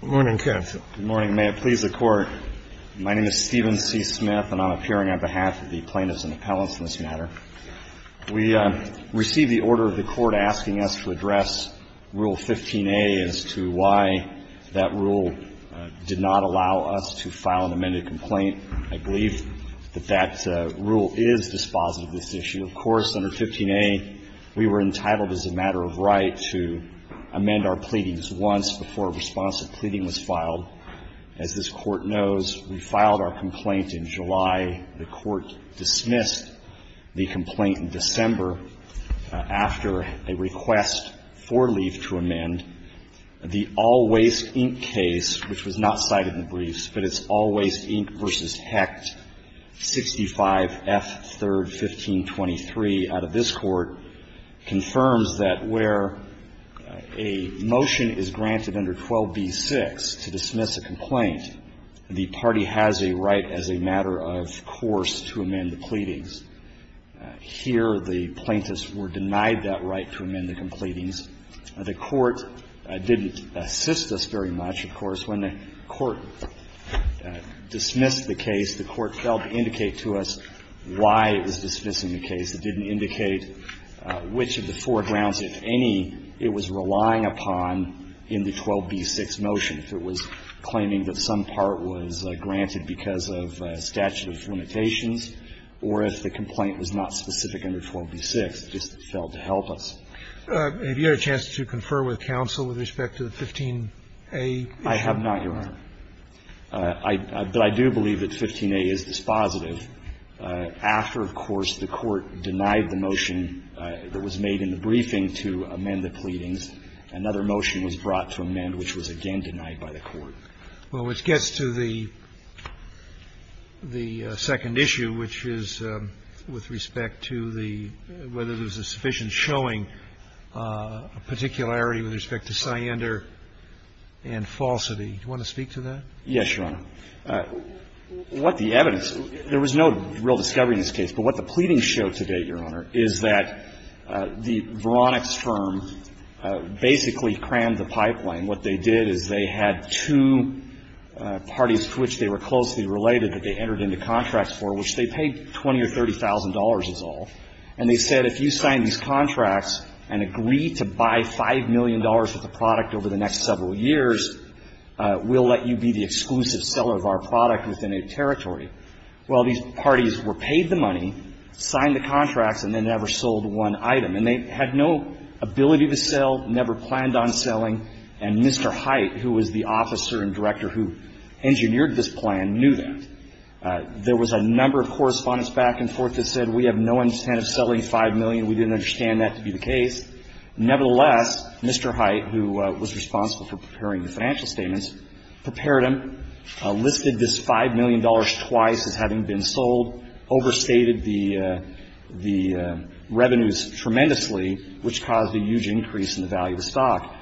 Good morning, counsel. Good morning. May it please the Court, my name is Stephen C. Smith and I'm appearing on behalf of the plaintiffs and appellants in this matter. We received the order of the Court asking us to address Rule 15a as to why that rule did not allow us to file an amended complaint. I believe that that rule is dispositive of this issue. Of course, under 15a, we were entitled as a matter of right to amend our pleadings once before a response to pleading was filed. As this Court knows, we filed our complaint in July, the Court dismissed the complaint in December after a request for leave to amend The All Waste, Inc. case, which was not cited in the briefs, but it's All Waste, Inc. v. Hecht, 65F31523 out of this Court, confirms that where a motion is granted under 12b-6 to dismiss a complaint, the party has a right as a matter of course to amend the pleadings. Here, the plaintiffs were denied that right to amend the completings. The Court didn't assist us very much, of course. When the Court dismissed the case, the Court failed to indicate to us why it was dismissing the case. It didn't indicate which of the four grounds, if any, it was relying upon in the 12b-6 motion, if it was claiming that some part was granted because of statute of limitations or if the complaint was not specific under 12b-6. It just failed to help us. Have you had a chance to confer with counsel with respect to the 15a issue? I have not, Your Honor. But I do believe that 15a is dispositive. After, of course, the Court denied the motion that was made in the briefing to amend the pleadings, another motion was brought to amend, which was again denied by the Court. Well, which gets to the second issue, which is with respect to the whether there was any indication showing a particularity with respect to Siander and falsity. Do you want to speak to that? Yes, Your Honor. What the evidence – there was no real discovery in this case, but what the pleadings show to date, Your Honor, is that the Veronix firm basically crammed the pipeline. What they did is they had two parties to which they were closely related that they entered into contracts for, which they paid $20,000 or $30,000 is all. And they said if you sign these contracts and agree to buy $5 million worth of product over the next several years, we'll let you be the exclusive seller of our product within a territory. Well, these parties were paid the money, signed the contracts, and they never sold one item. And they had no ability to sell, never planned on selling, and Mr. Hite, who was the officer and director who engineered this plan, knew that. There was a number of correspondence back and forth that said we have no intent of selling $5 million. We didn't understand that to be the case. Nevertheless, Mr. Hite, who was responsible for preparing the financial statements, prepared them, listed this $5 million twice as having been sold, overstated the revenues tremendously, which caused a huge increase in the value of the stock.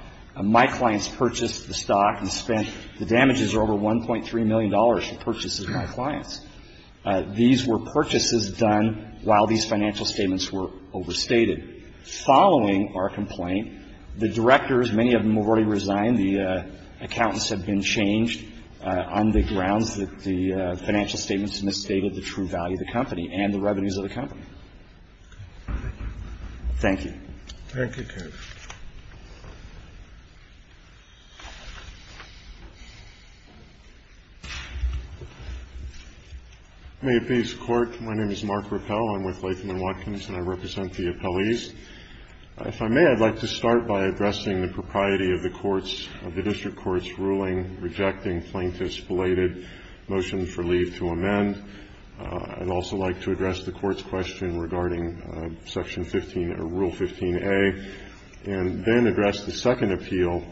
My clients purchased the stock and spent – the damages are over $1.3 million for purchases by clients. These were purchases done while these financial statements were overstated. Following our complaint, the directors, many of them have already resigned. The accountants have been changed on the grounds that the financial statements misstated the true value of the company and the revenues of the company. Thank you. Thank you, Kevin. May it please the Court. My name is Mark Rappel. I'm with Latham & Watkins, and I represent the appellees. If I may, I'd like to start by addressing the propriety of the court's – of the district court's ruling rejecting plaintiff's belated motion for leave to amend. I'd also like to address the court's question regarding Section 15, or Rule 15A, and then address the second appeal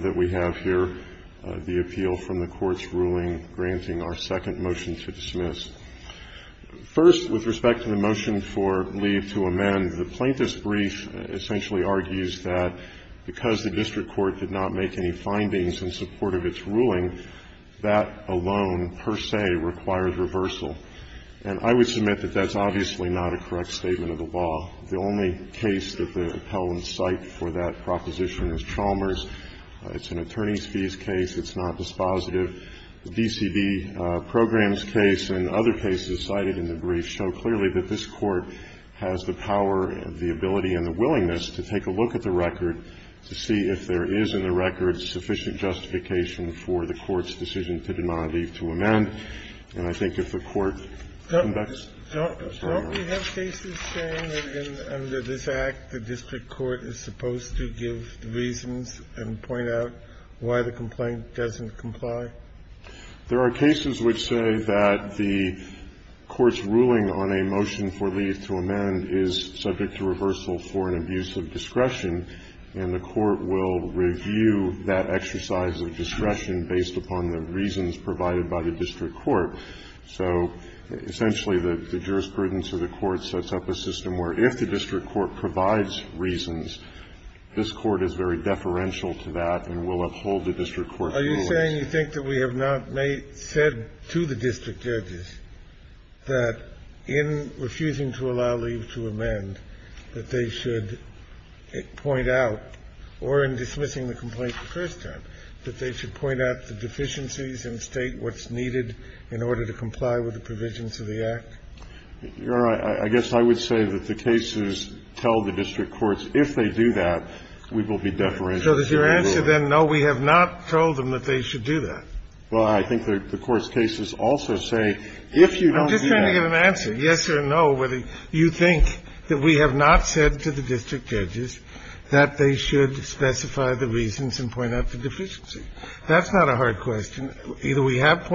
that we have here, the appeal from the court's ruling granting our second motion to dismiss. First, with respect to the motion for leave to amend, the plaintiff's brief essentially argues that because the district court did not make any findings in support of its And I would submit that that's obviously not a correct statement of the law. The only case that the appellants cite for that proposition is Chalmers. It's an attorney's fees case. It's not dispositive. The DCB programs case and other cases cited in the brief show clearly that this court has the power and the ability and the willingness to take a look at the record to see if there is in the record sufficient justification for the court's decision to deny leave to amend. And I think if the court conducts their own. Do you have cases saying that under this Act the district court is supposed to give reasons and point out why the complaint doesn't comply? There are cases which say that the court's ruling on a motion for leave to amend is subject to reversal for an abuse of discretion, and the court will review that exercise of discretion based upon the reasons provided by the district court. So essentially the jurisprudence of the court sets up a system where if the district court provides reasons, this court is very deferential to that and will uphold the district court's rulings. Are you saying you think that we have not said to the district judges that in refusing to allow leave to amend that they should point out or in dismissing the complaint that they should point out the deficiencies and state what's needed in order to comply with the provisions of the Act? Your Honor, I guess I would say that the cases tell the district courts if they do that, we will be deferential to their ruling. So does your answer then, no, we have not told them that they should do that? Well, I think the court's cases also say if you don't do that. I'm just trying to get an answer, yes or no, whether you think that we have not said to the district judges that they should specify the reasons and point out the deficiencies. That's not a hard question. Either we have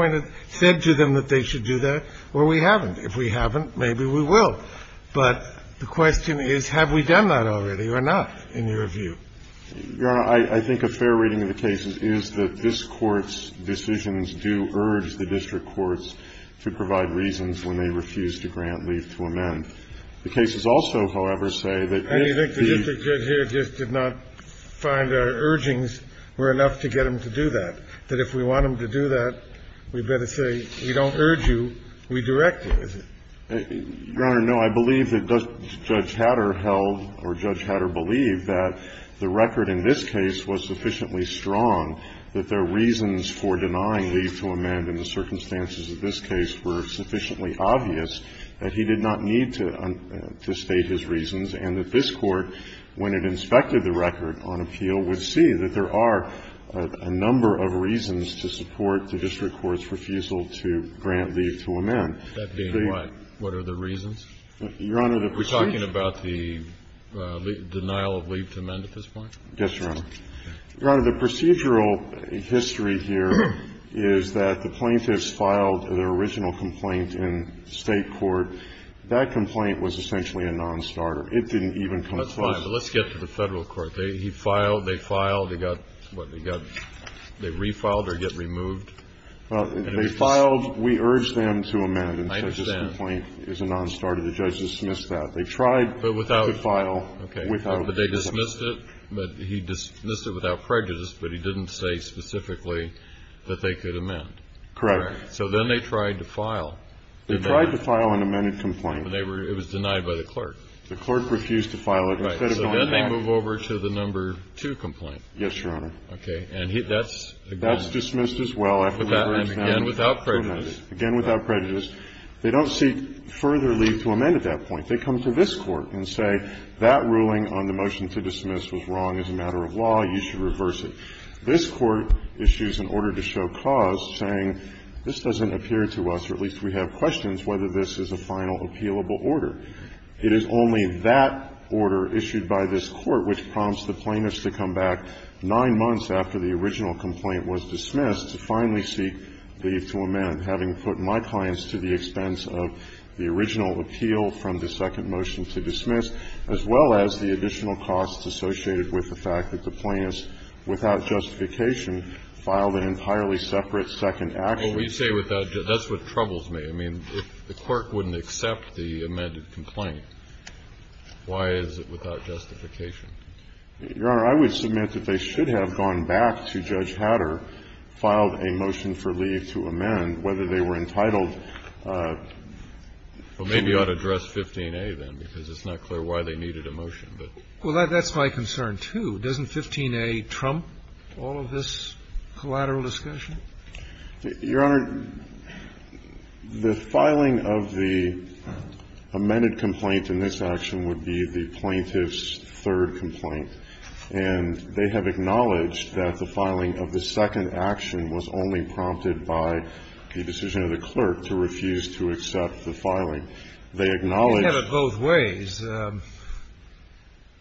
said to them that they should do that or we haven't. If we haven't, maybe we will. But the question is, have we done that already or not in your view? Your Honor, I think a fair reading of the cases is that this Court's decisions do urge the district courts to provide reasons when they refuse to grant leave to amend. The cases also, however, say that if the ---- And you think the district judge here just did not find our urgings were enough to get him to do that, that if we want him to do that, we'd better say we don't urge you, we direct you, is it? Your Honor, no. I believe that Judge Hatter held or Judge Hatter believed that the record in this case was sufficiently strong that their reasons for denying leave to amend in the circumstances of this case were sufficiently obvious that he did not need to state his reasons and that this Court, when it inspected the record on appeal, would see that there are a number of reasons to support the district court's refusal to grant leave to amend. That being what? What are the reasons? Your Honor, the ---- Are we talking about the denial of leave to amend at this point? Yes, Your Honor. Your Honor, the procedural history here is that the plaintiffs filed their original complaint in State court. That complaint was essentially a nonstarter. It didn't even come close. That's fine. But let's get to the Federal court. They filed, they filed, they got, what, they got, they refiled or get removed? They filed. We urged them to amend. I understand. And so this complaint is a nonstarter. The judges dismissed that. They tried to file without ---- Okay. But they dismissed it? But he dismissed it without prejudice, but he didn't say specifically that they could amend. Correct. So then they tried to file. They tried to file an amended complaint. It was denied by the clerk. The clerk refused to file it. Right. So then they move over to the number two complaint. Yes, Your Honor. And that's again ---- That's dismissed as well after we've urged them to amend it. Again without prejudice. Again without prejudice. They don't seek further leave to amend at that point. If they come to this Court and say that ruling on the motion to dismiss was wrong as a matter of law, you should reverse it. This Court issues an order to show cause saying this doesn't appear to us, or at least we have questions, whether this is a final appealable order. It is only that order issued by this Court which prompts the plaintiffs to come back nine months after the original complaint was dismissed to finally seek leave to amend, having put my clients to the expense of the original appeal from the second motion to dismiss, as well as the additional costs associated with the fact that the plaintiffs, without justification, filed an entirely separate second action. Well, you say without ---- that's what troubles me. I mean, if the clerk wouldn't accept the amended complaint, why is it without justification? Your Honor, I would submit that they should have gone back to Judge Hatter, filed a motion for leave to amend, whether they were entitled to ---- Well, maybe you ought to address 15a, then, because it's not clear why they needed a motion, but ---- Well, that's my concern, too. Doesn't 15a trump all of this collateral discussion? Your Honor, the filing of the amended complaint in this action would be the plaintiff's And they have acknowledged that the filing of the second action was only prompted by the decision of the clerk to refuse to accept the filing. They acknowledge ---- You have it both ways.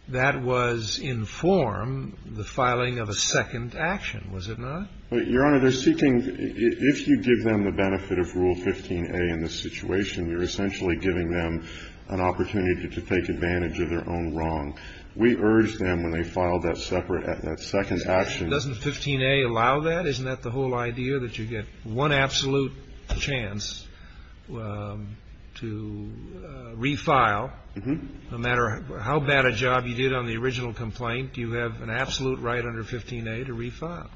That was in form, the filing of a second action, was it not? Your Honor, they're seeking ---- if you give them the benefit of Rule 15a in this situation, you're essentially giving them an opportunity to take advantage of their own wrong. We urge them, when they file that second action ---- Doesn't 15a allow that? Isn't that the whole idea, that you get one absolute chance to refile? No matter how bad a job you did on the original complaint, you have an absolute right under 15a to refile.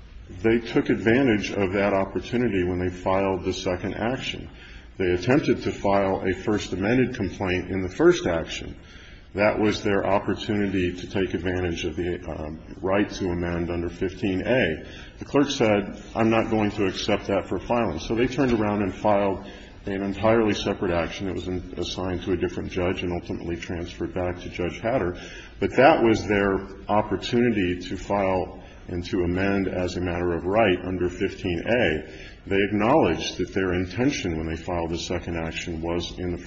They took advantage of that opportunity when they filed the second action. They attempted to file a First Amendment complaint in the first action. That was their opportunity to take advantage of the right to amend under 15a. The clerk said, I'm not going to accept that for filing. So they turned around and filed an entirely separate action. It was assigned to a different judge and ultimately transferred back to Judge Hatter. But that was their opportunity to file and to amend as a matter of right under 15a. They acknowledged that their intention when they filed the second action was, in the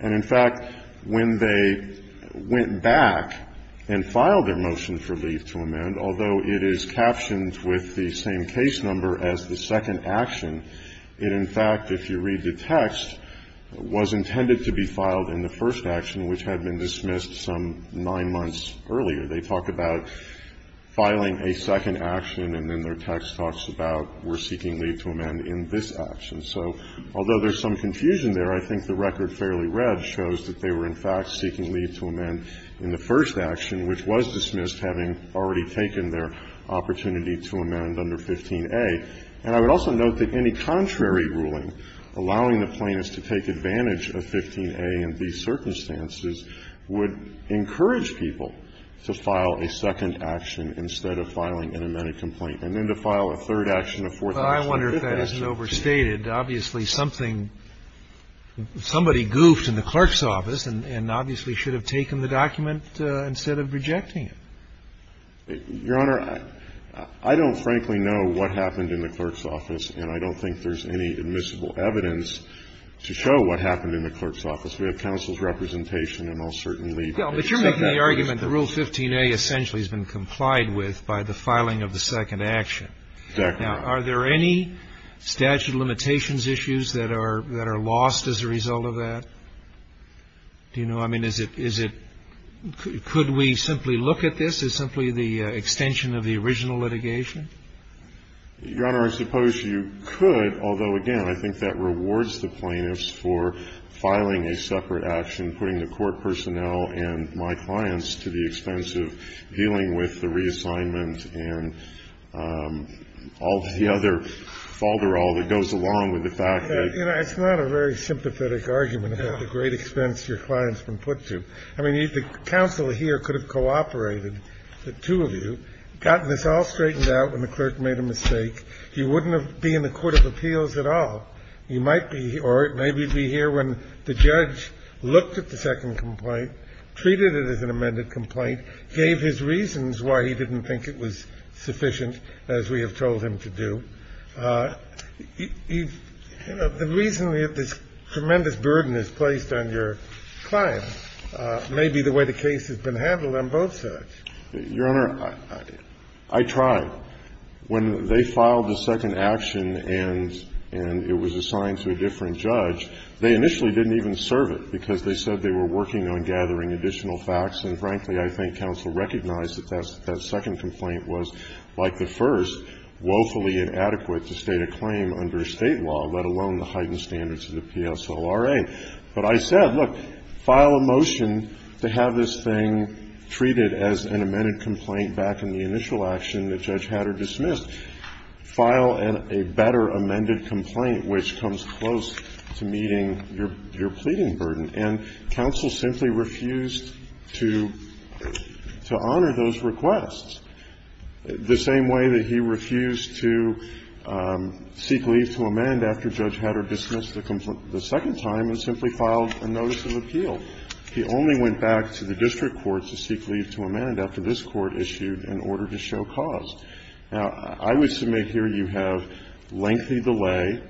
And, in fact, when they went back and filed their motion for leave to amend, although it is captioned with the same case number as the second action, it, in fact, if you read the text, was intended to be filed in the first action, which had been dismissed some nine months earlier. They talk about filing a second action, and then their text talks about we're seeking leave to amend in this action. So although there's some confusion there, I think the record fairly read shows that they were, in fact, seeking leave to amend in the first action, which was dismissed having already taken their opportunity to amend under 15a. And I would also note that any contrary ruling allowing the plaintiffs to take advantage of 15a in these circumstances would encourage people to file a second action instead of filing an amended complaint. And then to file a third action, a fourth action, a fifth action. Sotomayor Well, I wonder if that isn't overstated. Obviously, something – somebody goofed in the clerk's office and obviously should have taken the document instead of rejecting it. Your Honor, I don't frankly know what happened in the clerk's office, and I don't think there's any admissible evidence to show what happened in the clerk's office. We have counsel's representation, and I'll certainly leave it at that. Kennedy But you're making the argument that Rule 15a essentially has been complied with by the filing of the second action. Now, are there any statute of limitations issues that are lost as a result of that? Do you know? I mean, is it – could we simply look at this as simply the extension of the original litigation? Sotomayor Your Honor, I suppose you could, although, again, I think that rewards the plaintiffs for filing a separate action, putting the court personnel and my clients to the expense of dealing with the reassignment and all the other falderal that goes along with the fact that – Kennedy It's not a very sympathetic argument about the great expense your clients have been put to. I mean, the counsel here could have cooperated, the two of you, gotten this all straightened out when the clerk made a mistake. You wouldn't have been in the court of appeals at all. You might be – or maybe you'd be here when the judge looked at the second complaint, treated it as an amended complaint, gave his reasons why he didn't think it was sufficient as we have told him to do. You know, the reason that this tremendous burden is placed on your client may be the way the case has been handled on both sides. Carvin Your Honor, I tried. When they filed the second action and it was assigned to a different judge, they initially didn't even serve it because they said they were working on gathering additional facts, and frankly, I think counsel recognized that that second complaint was, like the first, woefully inadequate to state a claim under State law, let alone the heightened standards of the PSLRA. But I said, look, file a motion to have this thing treated as an amended complaint back in the initial action that Judge Hatter dismissed. File a better amended complaint, which comes close to meeting your pleading burden. And counsel simply refused to honor those requests, the same way that he refused to seek leave to amend after Judge Hatter dismissed the second time and simply filed a notice of appeal. He only went back to the district courts to seek leave to amend after this Court issued an order to show cause. Now, I would submit here you have lengthy delay.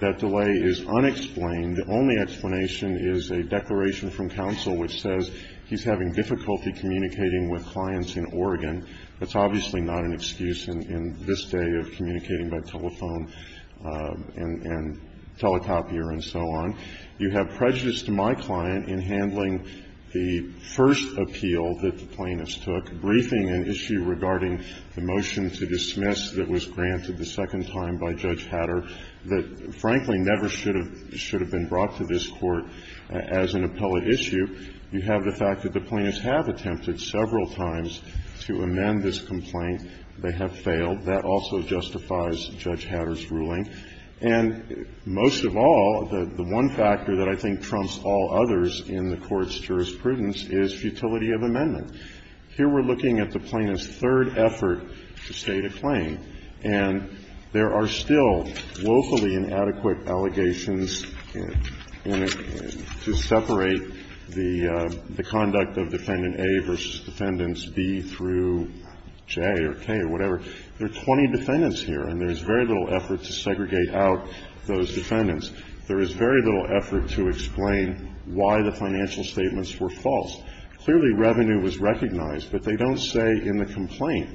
That delay is unexplained. The only explanation is a declaration from counsel which says he's having difficulty communicating with clients in Oregon. That's obviously not an excuse in this day of communicating by telephone and telecopier and so on. You have prejudice to my client in handling the first appeal that the plaintiffs took, briefing an issue regarding the motion to dismiss that was granted the second time by Judge Hatter that, frankly, never should have been brought to this Court as an appellate issue. You have the fact that the plaintiffs have attempted several times to amend this complaint. They have failed. That also justifies Judge Hatter's ruling. And most of all, the one factor that I think trumps all others in the Court's jurisprudence is futility of amendment. Here we're looking at the plaintiff's third effort to state a claim, and there are still woefully inadequate allegations in it to separate the conduct of Defendant A versus Defendants B through J or K or whatever. There are 20 defendants here, and there is very little effort to segregate out those defendants. There is very little effort to explain why the financial statements were false. Clearly, revenue was recognized, but they don't say in the complaint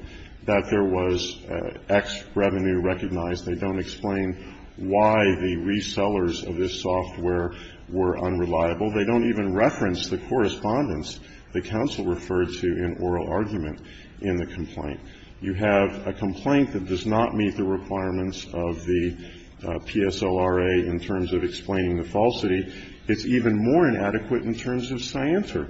that there was X revenue recognized. They don't explain why the resellers of this software were unreliable. They don't even reference the correspondence the counsel referred to in oral argument in the complaint. You have a complaint that does not meet the requirements of the PSLRA in terms of explaining the falsity. It's even more inadequate in terms of Scienter.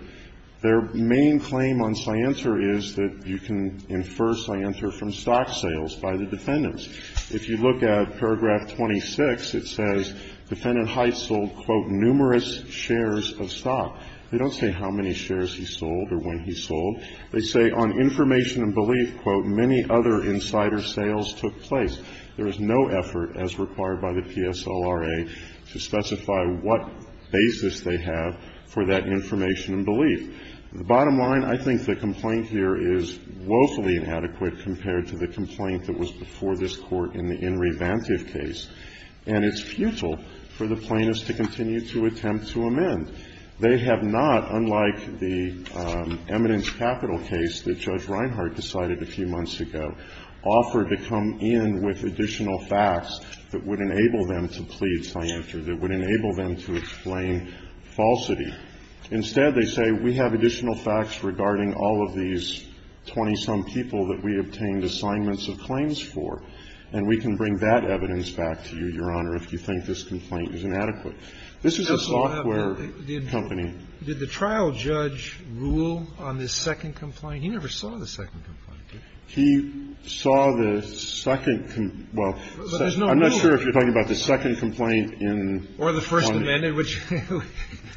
Their main claim on Scienter is that you can infer Scienter from stock sales by the defendants. If you look at paragraph 26, it says Defendant Heitz sold, quote, numerous shares of stock. They don't say how many shares he sold or when he sold. They say on information and belief, quote, many other insider sales took place. There is no effort, as required by the PSLRA, to specify what basis they have for that information and belief. The bottom line, I think the complaint here is woefully inadequate compared to the complaint that was before this Court in the In Revantive case. And it's futile for the plaintiffs to continue to attempt to amend. They have not, unlike the eminence capital case that Judge Reinhart decided a few months ago, offered to come in with additional facts that would enable them to plead Scienter, that would enable them to explain falsity. Instead, they say we have additional facts regarding all of these 20-some people that we obtained assignments of claims for, and we can bring that evidence back to you, Your Honor, if you think this complaint is inadequate. This is a software company. Sotomayor Did the trial judge rule on this second complaint? He never saw the second complaint. He saw the second complaint. Well, I'm not sure if you're talking about the second complaint in one. Or the first amended, which.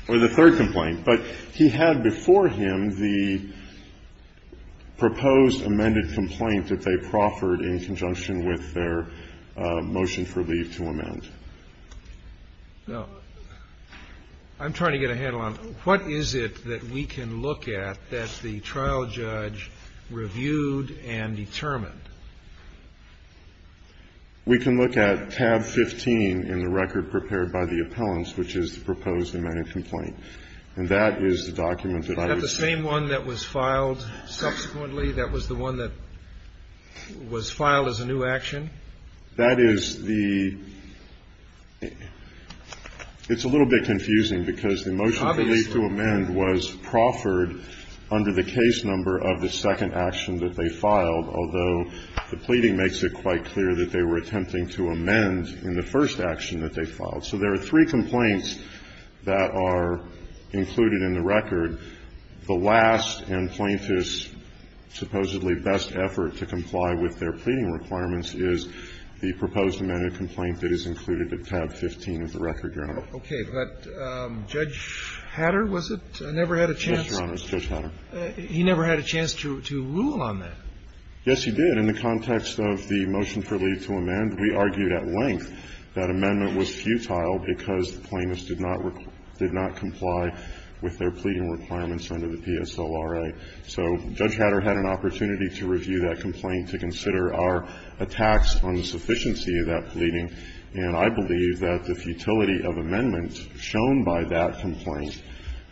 Or the third complaint. But he had before him the proposed amended complaint that they proffered in conjunction with their motion for leave to amend. Well, I'm trying to get a handle on it. What is it that we can look at that the trial judge reviewed and determined? We can look at tab 15 in the record prepared by the appellants, which is the proposed amended complaint. And that is the document that I would say. Is that the same one that was filed subsequently? That was the one that was filed as a new action? That is the It's a little bit confusing because the motion for leave to amend was proffered under the case number of the second action that they filed, although the pleading makes it quite clear that they were attempting to amend in the first action that they filed. So there are three complaints that are included in the record. The last and plaintiff's supposedly best effort to comply with their pleading requirements is the proposed amended complaint that is included in tab 15 of the record, Your Honor. Okay. But Judge Hatter, was it, never had a chance? Yes, Your Honor. It was Judge Hatter. He never had a chance to rule on that? Yes, he did. In the context of the motion for leave to amend, we argued at length that amendment was futile because the plaintiffs did not comply with their pleading requirements under the PSLRA. So Judge Hatter had an opportunity to review that complaint to consider our attacks on the sufficiency of that pleading. And I believe that the futility of amendments shown by that complaint,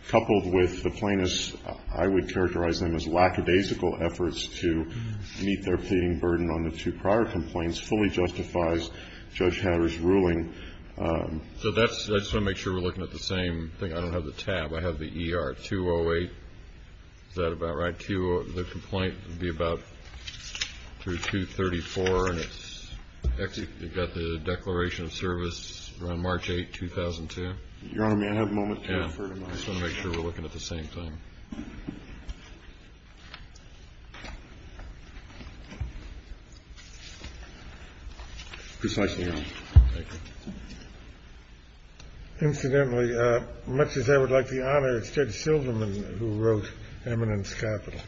coupled with the plaintiffs, I would characterize them as lackadaisical efforts to meet their So that's, I just want to make sure we're looking at the same thing. I don't have the tab. I have the ER-208. Is that about right? The complaint would be about through 234, and it's got the declaration of service around March 8, 2002. Your Honor, may I have a moment to refer to mine? I just want to make sure we're looking at the same thing. Precisely, Your Honor. Thank you. Incidentally, much as I would like to honor Judge Shilderman, who wrote Eminent's Capital.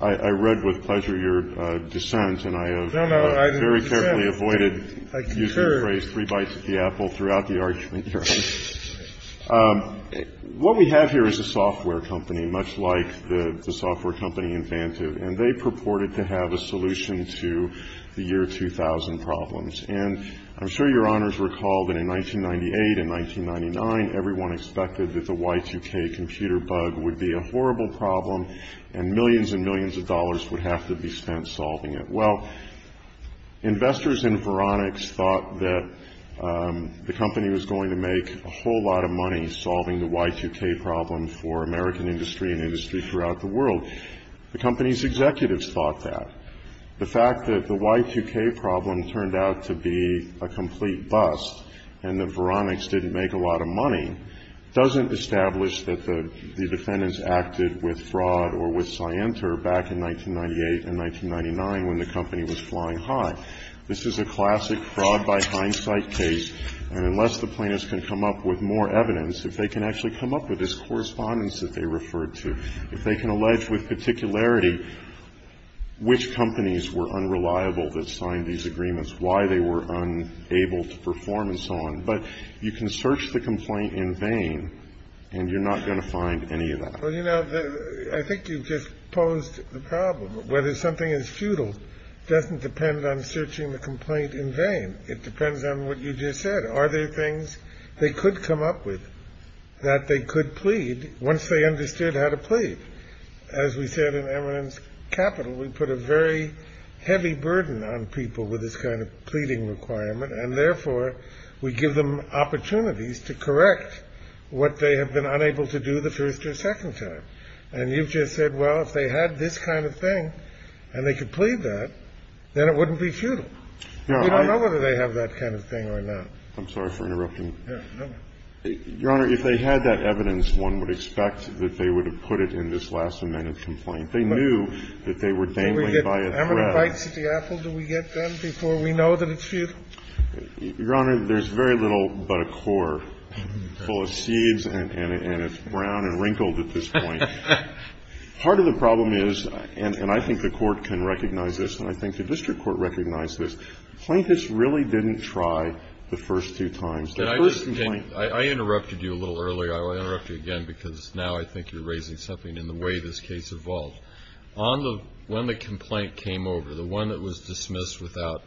I read with pleasure your dissent, and I have very carefully avoided using the phrase three bites at the apple throughout the argument, Your Honor. What we have here is a software company, much like the software company in Vantive, and they purported to have a solution to the year 2000 problems. And I'm sure Your Honors recall that in 1998 and 1999, everyone expected that the Y2K computer bug would be a horrible problem, and millions and millions of dollars would have to be spent solving it. Well, investors in Veronix thought that the company was going to make a whole lot of money solving the Y2K problem for American industry and industry throughout the world. The company's executives thought that. The fact that the Y2K problem turned out to be a complete bust and that Veronix didn't make a lot of money doesn't establish that the defendants acted with fraud or with scienter back in 1998 and 1999 when the company was flying high. This is a classic fraud by hindsight case, and unless the plaintiffs can come up with more evidence, if they can actually come up with this correspondence that they referred to, if they can allege with particularity which companies were unreliable that signed these agreements, why they were unable to perform, and so on. But you can search the complaint in vain, and you're not going to find any of that. Well, you know, I think you've just posed the problem. Whether something is futile doesn't depend on searching the complaint in vain. It depends on what you just said. Are there things they could come up with that they could plead once they understood how to plead? As we said in Eminence Capital, we put a very heavy burden on people with this kind of pleading requirement, and therefore we give them opportunities to correct what they have been unable to do the first or second time. And you've just said, well, if they had this kind of thing and they could plead that, then it wouldn't be futile. We don't know whether they have that kind of thing or not. I'm sorry for interrupting. No, no. Your Honor, if they had that evidence, one would expect that they would have put it in this last amendment complaint. They knew that they were dangling by a thread. Do we get ammonite bites at the apple? Do we get them before we know that it's futile? Your Honor, there's very little but a core full of seeds, and it's brown and wrinkled at this point. Part of the problem is, and I think the Court can recognize this, and I think the district court recognized this, plaintiffs really didn't try the first two times. The first complaint. I interrupted you a little earlier. I'll interrupt you again because now I think you're raising something in the way this case evolved. On the one that complaint came over, the one that was dismissed without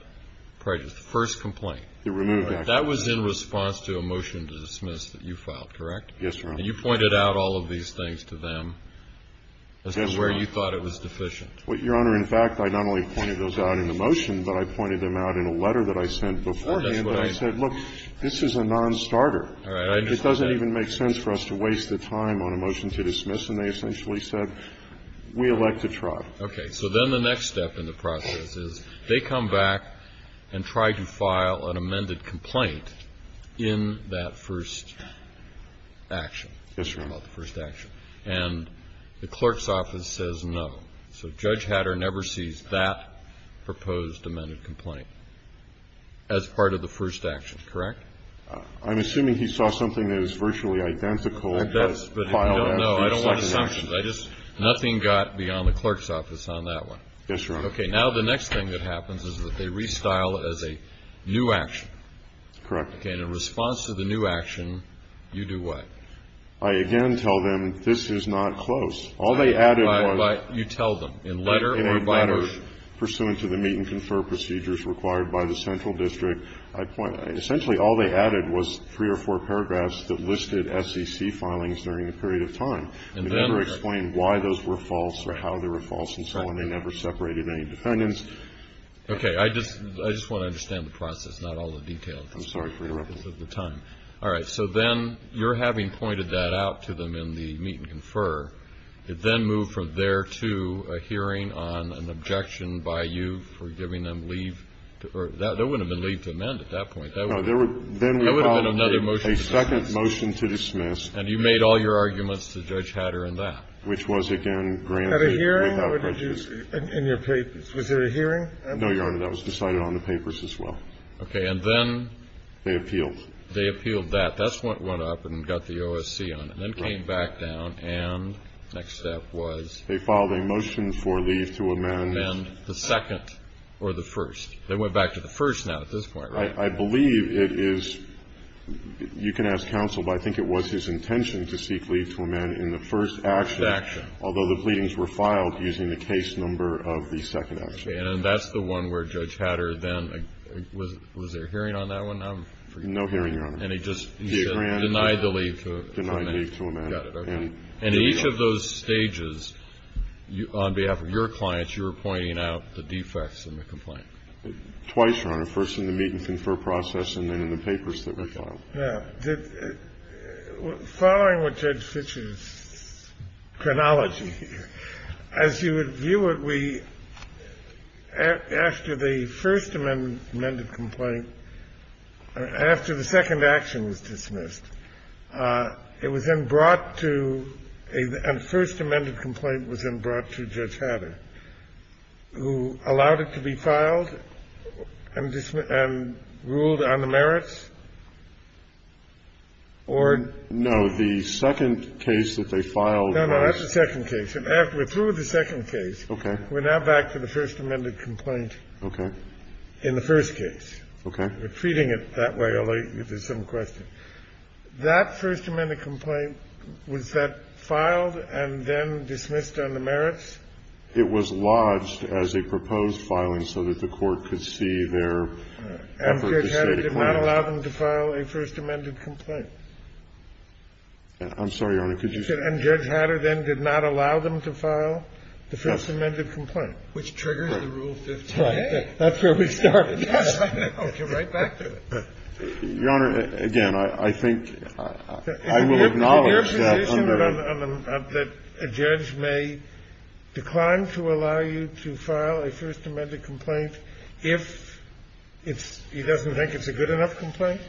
prejudice, the first complaint. It removed that. That was in response to a motion to dismiss that you filed, correct? Yes, Your Honor. And you pointed out all of these things to them as to where you thought it was deficient. Your Honor, in fact, I not only pointed those out in the motion, but I pointed them out in a letter that I sent beforehand. And I said, look, this is a nonstarter. All right. It doesn't even make sense for us to waste the time on a motion to dismiss. And they essentially said, we elect to trial. Okay. So then the next step in the process is they come back and try to file an amended complaint in that first action. Yes, Your Honor. About the first action. And the clerk's office says no. So Judge Hatter never sees that proposed amended complaint as part of the first action, correct? I'm assuming he saw something that is virtually identical. I don't know. I don't want assumptions. Nothing got beyond the clerk's office on that one. Yes, Your Honor. Okay. Now the next thing that happens is that they restyle as a new action. Correct. Okay. And in response to the new action, you do what? I again tell them this is not close. All they added was. You tell them. In letter or by letter? In a letter pursuant to the meet and confer procedures required by the central district. Essentially all they added was three or four paragraphs that listed SEC filings during a period of time. They never explained why those were false or how they were false and so on. They never separated any defendants. Okay. I just want to understand the process, not all the details. I'm sorry for interrupting. At the time. All right. So then you're having pointed that out to them in the meet and confer. It then moved from there to a hearing on an objection by you for giving them leave. That wouldn't have been leave to amend at that point. That would have been another motion to dismiss. A second motion to dismiss. And you made all your arguments to Judge Hatter in that. Which was, again, granted without prejudice. At a hearing? In your papers. Was there a hearing? No, Your Honor. That was decided on the papers as well. Okay. And then. They appealed. They appealed that. That's what went up and got the OSC on it. Right. And then came back down and the next step was. They filed a motion for leave to amend. Amend the second or the first. They went back to the first now at this point, right? I believe it is. You can ask counsel, but I think it was his intention to seek leave to amend in the first action. The first action. Although the pleadings were filed using the case number of the second action. Okay. And that's the one where Judge Hatter then. Was there a hearing on that one? I'm forgetting. No hearing, Your Honor. And he just denied the leave to amend. Denied leave to amend. Got it. Okay. And in each of those stages, on behalf of your clients, you were pointing out the defects in the complaint. Twice, Your Honor. First in the meet and confer process and then in the papers that were filed. Now, following with Judge Fischer's chronology, as you would view it, we, after the first amended complaint, after the second action was dismissed, it was then brought to a first amended complaint and it was then brought to Judge Hatter, who allowed it to be filed and ruled on the merits? Or. No. The second case that they filed was. No, no. That's the second case. We're through with the second case. Okay. We're now back to the first amended complaint. Okay. In the first case. Okay. We're treating it that way, although there's some question. That first amended complaint, was that filed and then dismissed on the merits? It was lodged as a proposed filing so that the Court could see their effort to state a claim. And Judge Hatter did not allow them to file a first amended complaint. I'm sorry, Your Honor. Could you. And Judge Hatter then did not allow them to file the first amended complaint. Which triggers the Rule 15a. Right. That's where we started. Yes. Okay. Right back to it. Your Honor, again, I think I will acknowledge that under. Is it your position that a judge may decline to allow you to file a first amended complaint if he doesn't think it's a good enough complaint?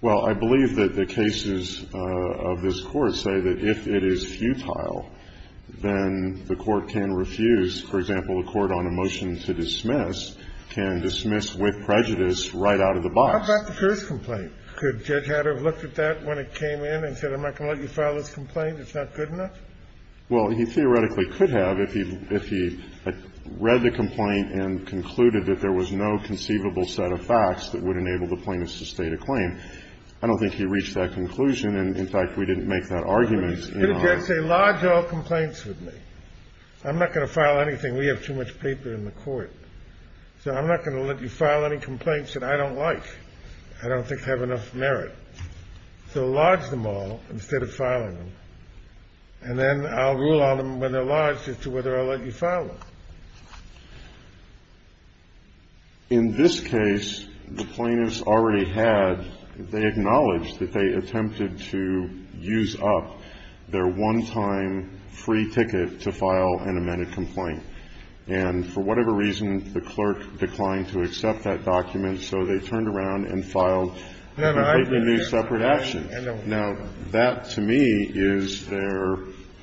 Well, I believe that the cases of this Court say that if it is futile, then the Court can refuse. For example, a court on a motion to dismiss can dismiss with prejudice right out of the box. How about the first complaint? Could Judge Hatter have looked at that when it came in and said, I'm not going to let you file this complaint? It's not good enough? Well, he theoretically could have if he read the complaint and concluded that there was no conceivable set of facts that would enable the plaintiffs to state a claim. I don't think he reached that conclusion. And, in fact, we didn't make that argument. Could a judge say, lodge all complaints with me? I'm not going to file anything. We have too much paper in the Court. So I'm not going to let you file any complaints that I don't like. I don't think they have enough merit. So lodge them all instead of filing them. And then I'll rule on them when they're lodged as to whether I'll let you file them. In this case, the plaintiffs already had they acknowledged that they attempted to use up their one-time free ticket to file an amended complaint. And for whatever reason, the clerk declined to accept that document, so they turned around and filed a completely new separate action. Now, that to me is their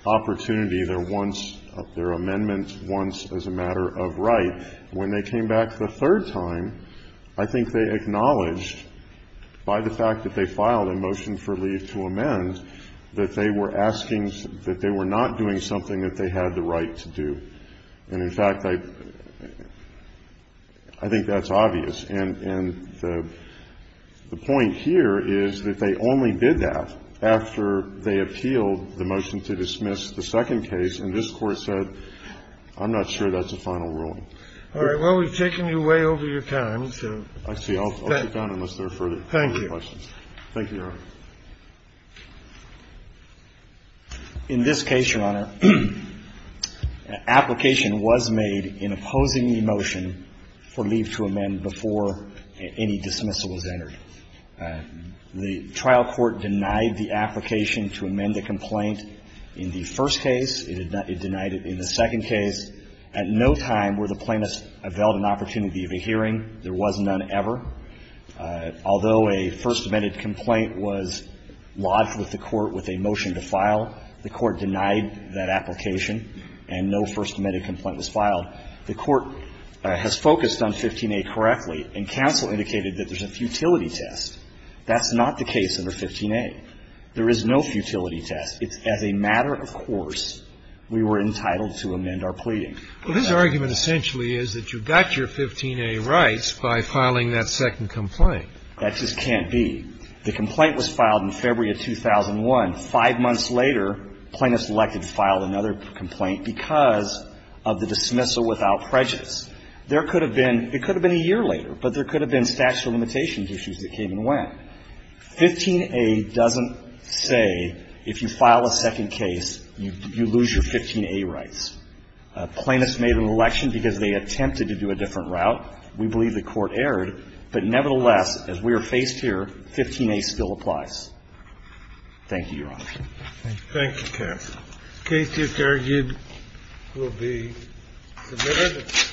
opportunity, their once, their amendment once as a matter of right. When they came back the third time, I think they acknowledged by the fact that they filed a motion for leave to amend that they were asking, that they were not doing something that they had the right to do. And, in fact, I think that's obvious. And the point here is that they only did that after they appealed the motion to dismiss the second case. And this Court said, I'm not sure that's a final ruling. All right. Well, we've taken you way over your time, so. I see. I'll keep going unless there are further questions. Thank you. Thank you, Your Honor. In this case, Your Honor, an application was made in opposing the motion for leave to amend before any dismissal was entered. The trial court denied the application to amend the complaint in the first case. It denied it in the second case. At no time were the plaintiffs availed an opportunity of a hearing. There was none ever. Although a first amended complaint was lodged with the Court with a motion to file, the Court denied that application and no first amended complaint was filed. The Court has focused on 15a correctly, and counsel indicated that there's a futility test. That's not the case under 15a. There is no futility test. It's as a matter of course we were entitled to amend our pleading. Well, his argument essentially is that you've got your 15a rights by filing that second complaint. That just can't be. The complaint was filed in February of 2001. Five months later, plaintiffs elected to file another complaint because of the dismissal without prejudice. There could have been, it could have been a year later, but there could have been statute of limitations issues that came and went. 15a doesn't say if you file a second case, you lose your 15a rights. Plaintiffs made an election because they attempted to do a different route. We believe the Court erred. But nevertheless, as we are faced here, 15a still applies. Thank you, Your Honor. Thank you, counsel. The case, it's argued, will be submitted.